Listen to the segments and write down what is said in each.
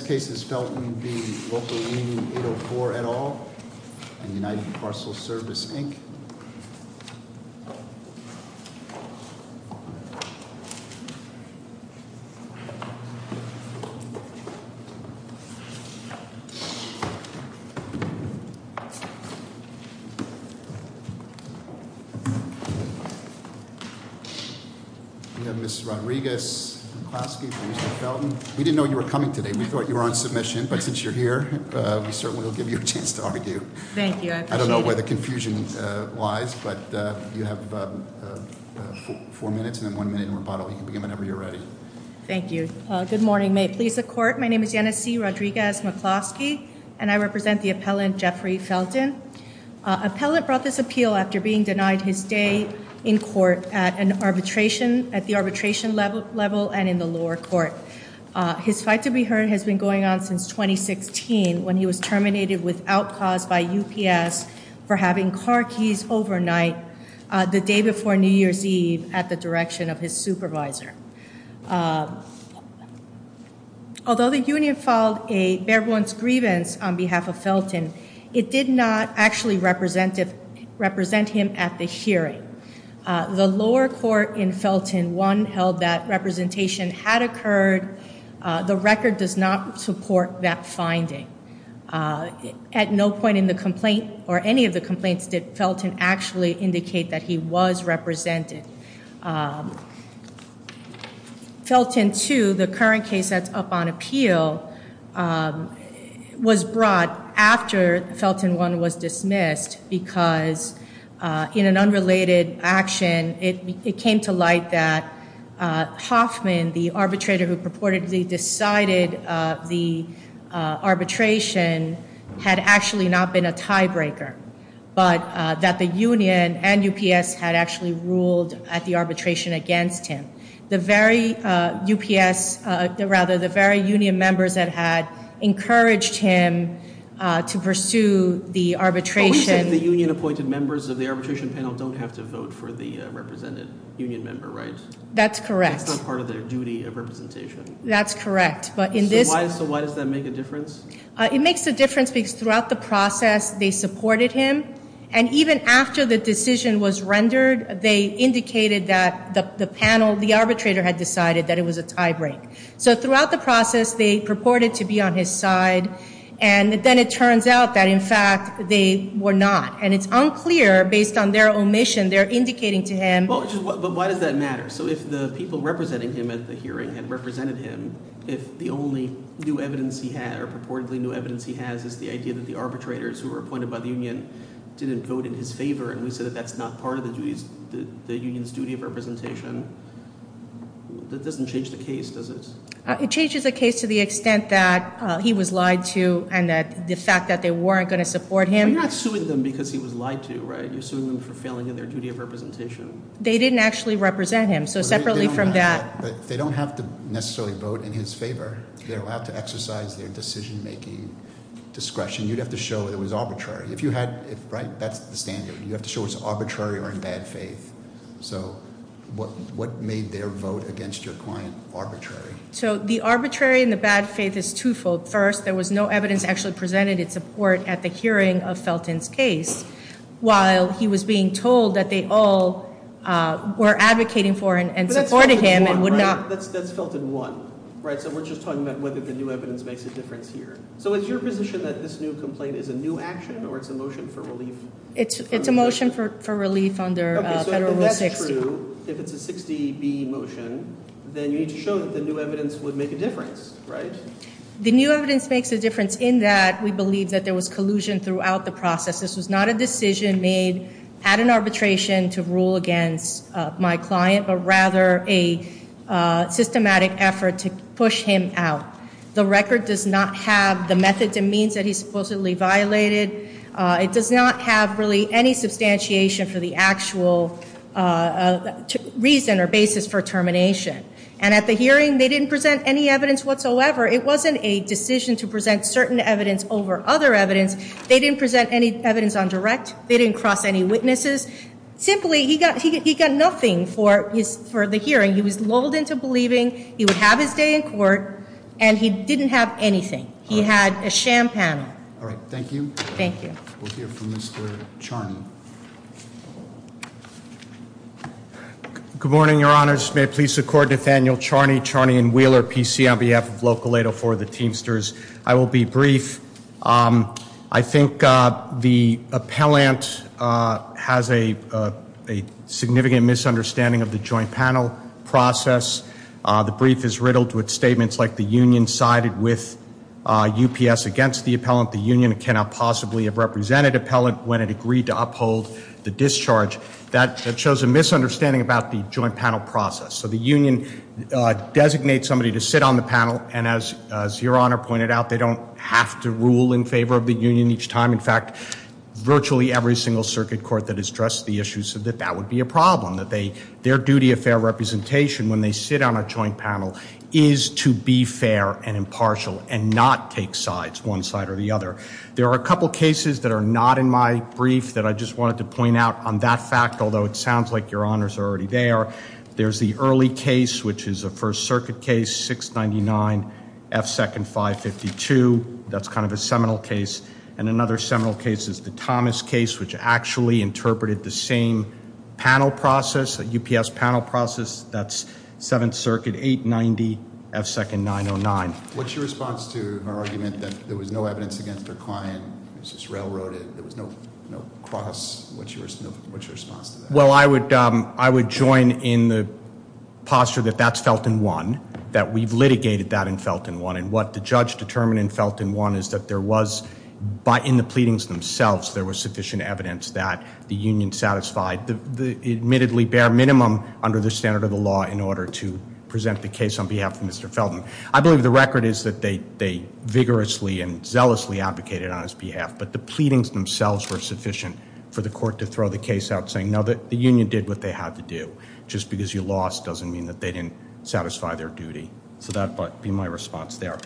Defense Cases, Felton v. Local Union 804 et al. and United Parcel Service, Inc. We have Ms. Rodriguez-Klasky and Mr. Felton. We didn't know you were coming today. We thought you were on submission, but since you're here, we certainly will give you a chance to argue. Thank you. I appreciate it. I don't know where the confusion lies, but you have four minutes and then one minute in rebuttal. You can begin whenever you're ready. Thank you. Good morning. May it please the Court, my name is Janice C. Rodriguez-Klasky, and I represent the appellant Jeffrey Felton. Appellant brought this appeal after being denied his day in court at the arbitration level and in the lower court. His fight to be heard has been going on since 2016 when he was terminated without cause by UPS for having car keys overnight the day before New Year's Eve at the direction of his supervisor. Although the union filed a bare bones grievance on behalf of Felton, it did not actually represent him at the hearing. The lower court in Felton 1 held that representation had occurred. The record does not support that finding. At no point in the complaint or any of the complaints did Felton actually indicate that he was represented. Felton 2, the current case that's up on appeal, was brought after Felton 1 was dismissed because in an unrelated action it came to light that Hoffman, the arbitrator who purportedly decided the arbitration, had actually not been a tiebreaker, but that the union and UPS had actually ruled at the arbitration against him. The very UPS, rather the very union members that had encouraged him to pursue the arbitration... But we said the union appointed members of the arbitration panel don't have to vote for the represented union member, right? That's correct. It's not part of their duty of representation. That's correct, but in this... So why does that make a difference? It makes a difference because throughout the process they supported him, and even after the decision was rendered, they indicated that the panel, the arbitrator, had decided that it was a tiebreaker. So throughout the process they purported to be on his side, and then it turns out that in fact they were not. And it's unclear, based on their omission, they're indicating to him... But why does that matter? So if the people representing him at the hearing had represented him, if the only new evidence he had or purportedly new evidence he has is the idea that the arbitrators who were appointed by the union didn't vote in his favor, and we said that that's not part of the union's duty of representation, that doesn't change the case, does it? It changes the case to the extent that he was lied to and that the fact that they weren't going to support him... But you're not suing them because he was lied to, right? You're suing them for failing in their duty of representation. They didn't actually represent him. So separately from that... But they don't have to necessarily vote in his favor. They're allowed to exercise their decision-making discretion. You'd have to show it was arbitrary. If you had... That's the standard. You have to show it's arbitrary or in bad faith. So what made their vote against your client arbitrary? So the arbitrary and the bad faith is twofold. First, there was no evidence actually presented in support at the hearing of Felton's case, while he was being told that they all were advocating for and supporting him and would not... But that's Felton 1, right? That's Felton 1, right? So we're just talking about whether the new evidence makes a difference here. So is your position that this new complaint is a new action or it's a motion for relief? It's a motion for relief under Federal Rule 60. Okay, so if that's true, if it's a 60B motion, then you need to show that the new evidence would make a difference, right? The new evidence makes a difference in that we believe that there was collusion throughout the process. This was not a decision made at an arbitration to rule against my client, but rather a systematic effort to push him out. The record does not have the methods and means that he supposedly violated. It does not have really any substantiation for the actual reason or basis for termination. And at the hearing, they didn't present any evidence whatsoever. It wasn't a decision to present certain evidence over other evidence. They didn't present any evidence on direct. They didn't cross any witnesses. Simply, he got nothing for the hearing. He was lulled into believing he would have his day in court, and he didn't have anything. He had a sham panel. All right, thank you. Thank you. We'll hear from Mr. Charney. Good morning, Your Honors. May it please the Court, Nathaniel Charney, Charney and Wheeler, PC, on behalf of Local 804, the Teamsters. I will be brief. I think the appellant has a significant misunderstanding of the joint panel process. The brief is riddled with statements like the union sided with UPS against the appellant, the union cannot possibly have represented appellant when it agreed to uphold the discharge. That shows a misunderstanding about the joint panel process. So the union designates somebody to sit on the panel, and as Your Honor pointed out, they don't have to rule in favor of the union each time. In fact, virtually every single circuit court that has addressed the issue said that that would be a problem, that their duty of fair representation when they sit on a joint panel is to be fair and impartial and not take sides, one side or the other. There are a couple cases that are not in my brief that I just wanted to point out on that fact, although it sounds like Your Honors are already there. There's the early case, which is a First Circuit case, 699 F. Second 552. That's kind of a seminal case. And another seminal case is the Thomas case, which actually interpreted the same panel process, a UPS panel process, that's Seventh Circuit 890 F. Second 909. What's your response to her argument that there was no evidence against her client? It was just railroaded. There was no cross. What's your response to that? Well, I would join in the posture that that's Felton 1, that we've litigated that in Felton 1, and what the judge determined in Felton 1 is that there was, in the pleadings themselves, there was sufficient evidence that the union satisfied the admittedly bare minimum under the standard of the law in order to present the case on behalf of Mr. Felton. I believe the record is that they vigorously and zealously advocated on his behalf, but the pleadings themselves were sufficient for the court to throw the case out saying, no, the union did what they had to do. Just because you lost doesn't mean that they didn't satisfy their duty. So that would be my response there.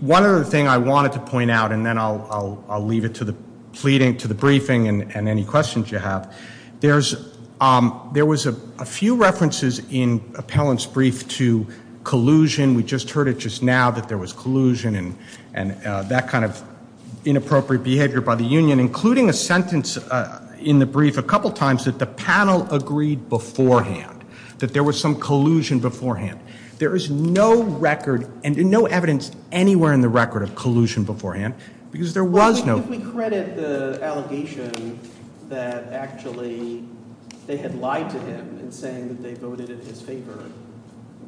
One other thing I wanted to point out, and then I'll leave it to the pleading, to the briefing, and any questions you have, there was a few references in Appellant's brief to collusion. We just heard it just now that there was collusion and that kind of inappropriate behavior by the union, including a sentence in the brief a couple times that the panel agreed beforehand, that there was some collusion beforehand. There is no record and no evidence anywhere in the record of collusion beforehand, because there was no I think we credit the allegation that actually they had lied to him in saying that they voted in his favor.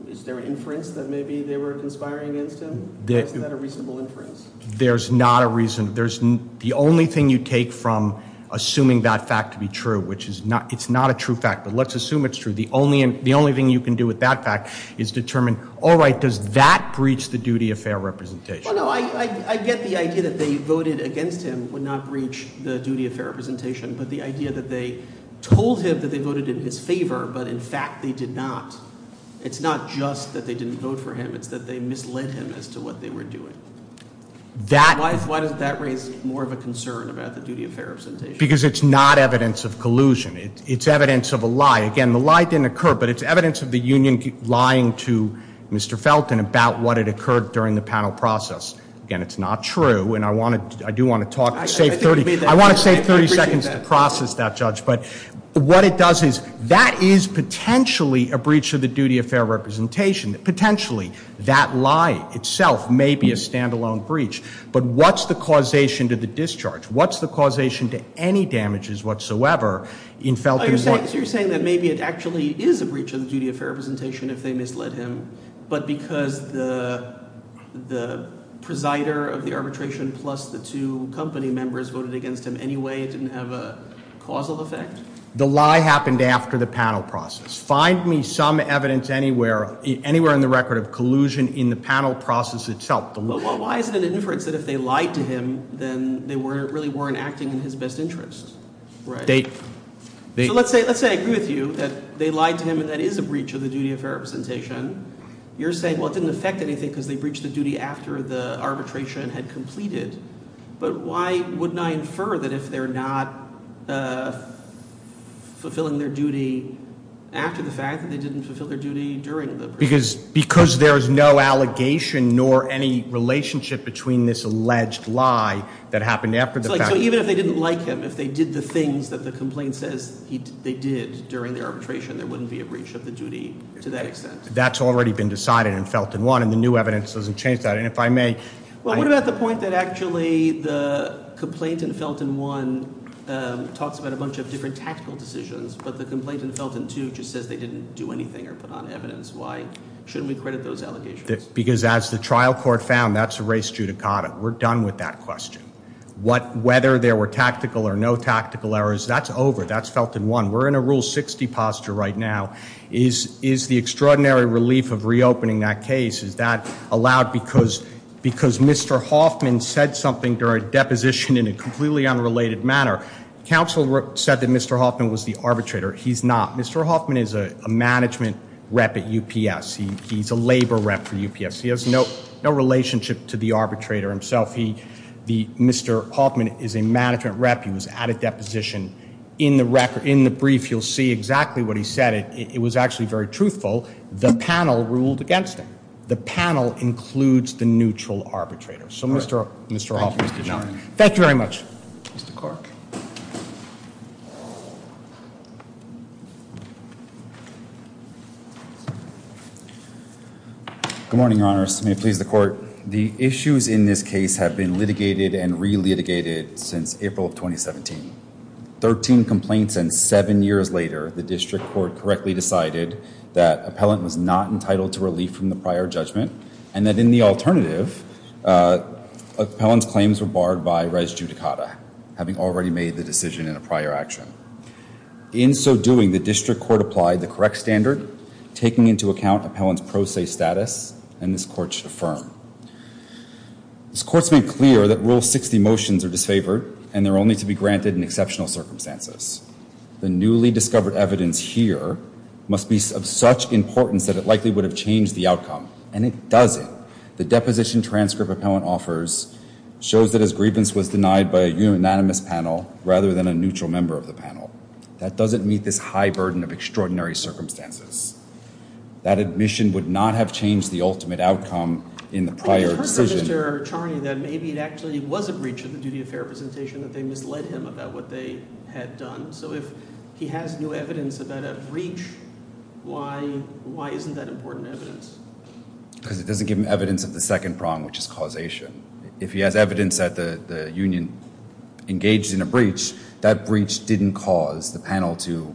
Is there an inference that maybe they were conspiring against him? Is that a reasonable inference? There's not a reason. The only thing you take from assuming that fact to be true, which it's not a true fact, but let's assume it's true, the only thing you can do with that fact is determine, all right, does that breach the duty of fair representation? Well, no, I get the idea that they voted against him, would not breach the duty of fair representation, but the idea that they told him that they voted in his favor, but in fact they did not, it's not just that they didn't vote for him, it's that they misled him as to what they were doing. Why does that raise more of a concern about the duty of fair representation? Because it's not evidence of collusion. It's evidence of a lie. Again, the lie didn't occur, but it's evidence of the union lying to Mr. Felton about what had occurred during the panel process. Again, it's not true, and I do want to save 30 seconds to process that, Judge, but what it does is that is potentially a breach of the duty of fair representation. Potentially, that lie itself may be a standalone breach, but what's the causation to the discharge? What's the causation to any damages whatsoever in Felton's work? So you're saying that maybe it actually is a breach of the duty of fair representation if they misled him, but because the presider of the arbitration plus the two company members voted against him anyway, it didn't have a causal effect? The lie happened after the panel process. Find me some evidence anywhere in the record of collusion in the panel process itself. Why is it an inference that if they lied to him, then they really weren't acting in his best interest? Right. So let's say I agree with you that they lied to him and that is a breach of the duty of fair representation. You're saying, well, it didn't affect anything because they breached the duty after the arbitration had completed, but why wouldn't I infer that if they're not fulfilling their duty after the fact that they didn't fulfill their duty during the- Because there is no allegation nor any relationship between this alleged lie that happened after the fact. So even if they didn't like him, if they did the things that the complaint says they did during the arbitration, there wouldn't be a breach of the duty to that extent? That's already been decided in Felton 1, and the new evidence doesn't change that. And if I may- Well, what about the point that actually the complaint in Felton 1 talks about a bunch of different tactical decisions, but the complaint in Felton 2 just says they didn't do anything or put on evidence? Why shouldn't we credit those allegations? Because as the trial court found, that's a race judicata. We're done with that question. Whether there were tactical or no tactical errors, that's over. That's Felton 1. We're in a Rule 60 posture right now. Is the extraordinary relief of reopening that case, is that allowed because Mr. Hoffman said something during deposition in a completely unrelated manner? Counsel said that Mr. Hoffman was the arbitrator. He's not. Mr. Hoffman is a management rep at UPS. He's a labor rep for UPS. He has no relationship to the arbitrator himself. Mr. Hoffman is a management rep. He was at a deposition. In the brief, you'll see exactly what he said. It was actually very truthful. The panel ruled against him. The panel includes the neutral arbitrator. So Mr. Hoffman is not. Thank you very much. Mr. Cork. Good morning, Your Honors. May it please the court. The issues in this case have been litigated and re-litigated since April of 2017. Thirteen complaints and seven years later, the district court correctly decided that appellant was not entitled to relief from the prior judgment, and that in the alternative, appellant's claims were barred by res judicata. Having already made the decision in a prior action. In so doing, the district court applied the correct standard, taking into account appellant's pro se status, and this court should affirm. This court's made clear that Rule 60 motions are disfavored, and they're only to be granted in exceptional circumstances. The newly discovered evidence here must be of such importance that it likely would have changed the outcome, and it doesn't. The deposition transcript appellant offers shows that his grievance was denied by a unanimous panel, rather than a neutral member of the panel. That doesn't meet this high burden of extraordinary circumstances. That admission would not have changed the ultimate outcome in the prior decision. But you've heard from Mr. Charney that maybe it actually was a breach of the duty of fair representation, that they misled him about what they had done. So if he has new evidence about a breach, why isn't that important evidence? Because it doesn't give him evidence of the second prong, which is causation. If he has evidence that the union engaged in a breach, that breach didn't cause the panel to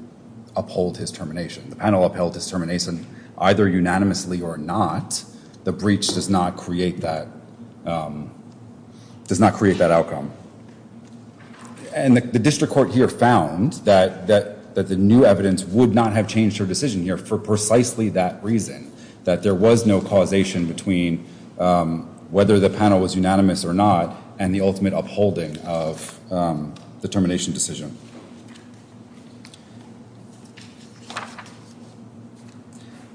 uphold his termination. The panel upheld his termination either unanimously or not. The breach does not create that outcome. And the district court here found that the new evidence would not have changed her decision here for precisely that reason. That there was no causation between whether the panel was unanimous or not, and the ultimate upholding of the termination decision.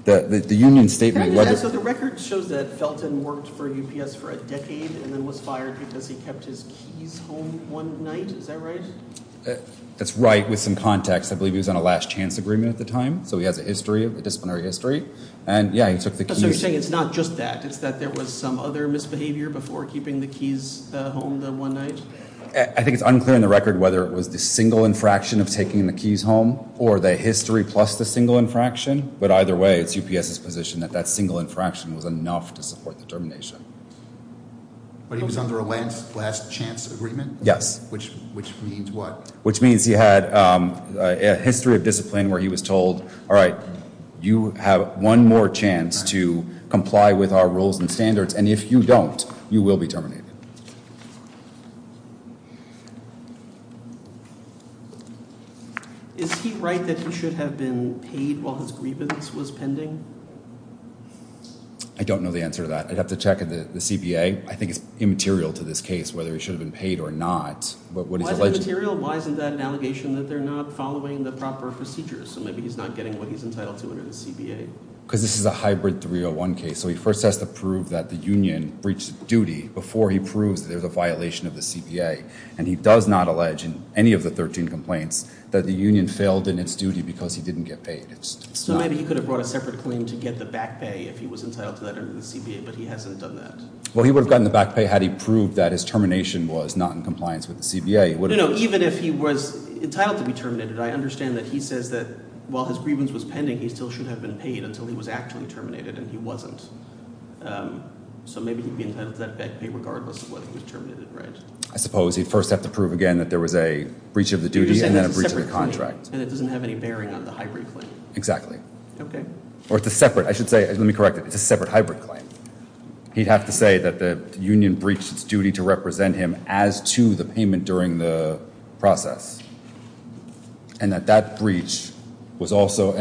The union statement. So the record shows that Felton worked for UPS for a decade and then was fired because he kept his keys home one night. Is that right? That's right. With some context, I believe he was on a last chance agreement at the time. So he has a history of disciplinary history. And yeah, he took the keys. So you're saying it's not just that. It's that there was some other misbehavior before keeping the keys home the one night. I think it's unclear in the record whether it was the single infraction of taking the keys home or the history plus the single infraction. But either way, it's UPS's position that that single infraction was enough to support the termination. But he was under a last chance agreement? Yes. Which means what? Which means he had a history of discipline where he was told, all right, you have one more chance to comply with our rules and standards. And if you don't, you will be terminated. Is he right that he should have been paid while his grievance was pending? I don't know the answer to that. I'd have to check the CBA. I think it's immaterial to this case whether he should have been paid or not. Why is it immaterial? Why isn't that an allegation that they're not following the proper procedures? So maybe he's not getting what he's entitled to under the CBA. Because this is a hybrid 301 case. So he first has to prove that the union breached duty before he proves there's a violation of the CBA. And he does not allege in any of the 13 complaints that the union failed in its duty because he didn't get paid. So maybe he could have brought a separate claim to get the back pay if he was entitled to that under the CBA. But he hasn't done that. Well, he would have gotten the back pay had he proved that his termination was not in compliance with the CBA. Even if he was entitled to be terminated, I understand that he says that while his grievance was pending, he still should have been paid until he was actually terminated. And he wasn't. So maybe he'd be entitled to that back pay regardless of whether he was terminated, right? I suppose he'd first have to prove again that there was a breach of the duty and then a breach of the contract. And it doesn't have any bearing on the hybrid claim. Exactly. Okay. Or it's a separate. I should say, let me correct it. It's a separate hybrid claim. He'd have to say that the union breached its duty to represent him as to the payment during the process. And that that breach was also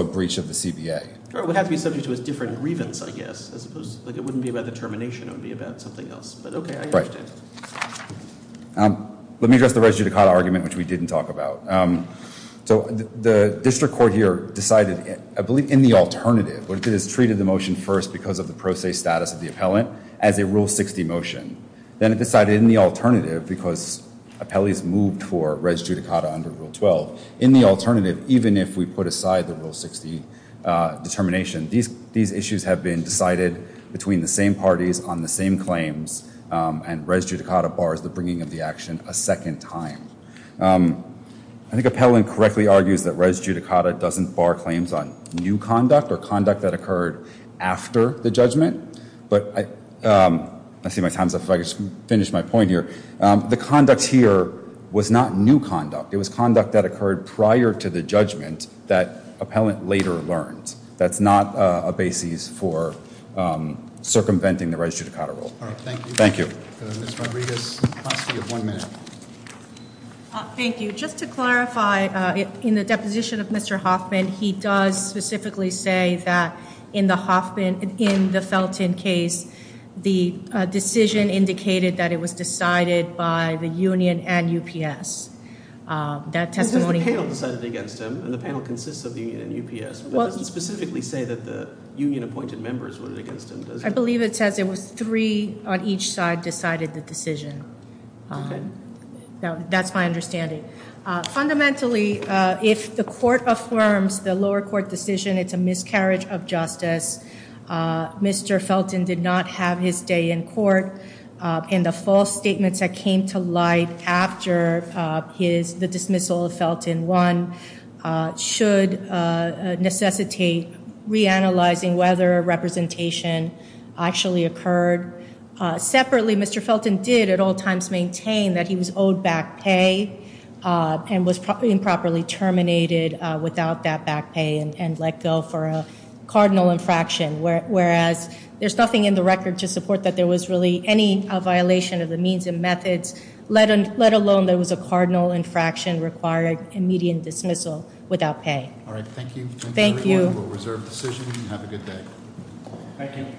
a breach of the CBA. It would have to be subject to a different grievance, I guess, as opposed to, like, it wouldn't be about the termination. It would be about something else. But, okay, I understand. Right. Let me address the res judicata argument, which we didn't talk about. So the district court here decided, I believe in the alternative, what it did is treated the motion first because of the pro se status of the appellant as a Rule 60 motion. Then it decided in the alternative because appellees moved for res judicata under Rule 12. In the alternative, even if we put aside the Rule 60 determination, these issues have been decided between the same parties on the same claims. And res judicata bars the bringing of the action a second time. I think appellant correctly argues that res judicata doesn't bar claims on new conduct or conduct that occurred after the judgment. But I see my time's up. If I could just finish my point here. The conduct here was not new conduct. It was conduct that occurred prior to the judgment that appellant later learned. That's not a basis for circumventing the res judicata rule. Thank you. Ms. Rodriguez, you have one minute. Thank you. Just to clarify, in the deposition of Mr. Hoffman, he does specifically say that in the Felton case, the decision indicated that it was decided by the union and UPS. That testimony- The panel decided against him, and the panel consists of the union and UPS. But it doesn't specifically say that the union appointed members voted against him, does it? I believe it says it was three on each side decided the decision. Okay. That's my understanding. Fundamentally, if the court affirms the lower court decision, it's a miscarriage of justice. Mr. Felton did not have his day in court, and the false statements that came to light after the dismissal of Felton, one, should necessitate reanalyzing whether a representation actually occurred. Separately, Mr. Felton did at all times maintain that he was owed back pay and was improperly terminated without that back pay and let go for a cardinal infraction, whereas there's nothing in the record to support that there was really any violation of the means and methods, let alone that it was a cardinal infraction requiring immediate dismissal without pay. All right. Thank you. Thank you. Thank you very much for a reserved decision. Have a good day. Thank you.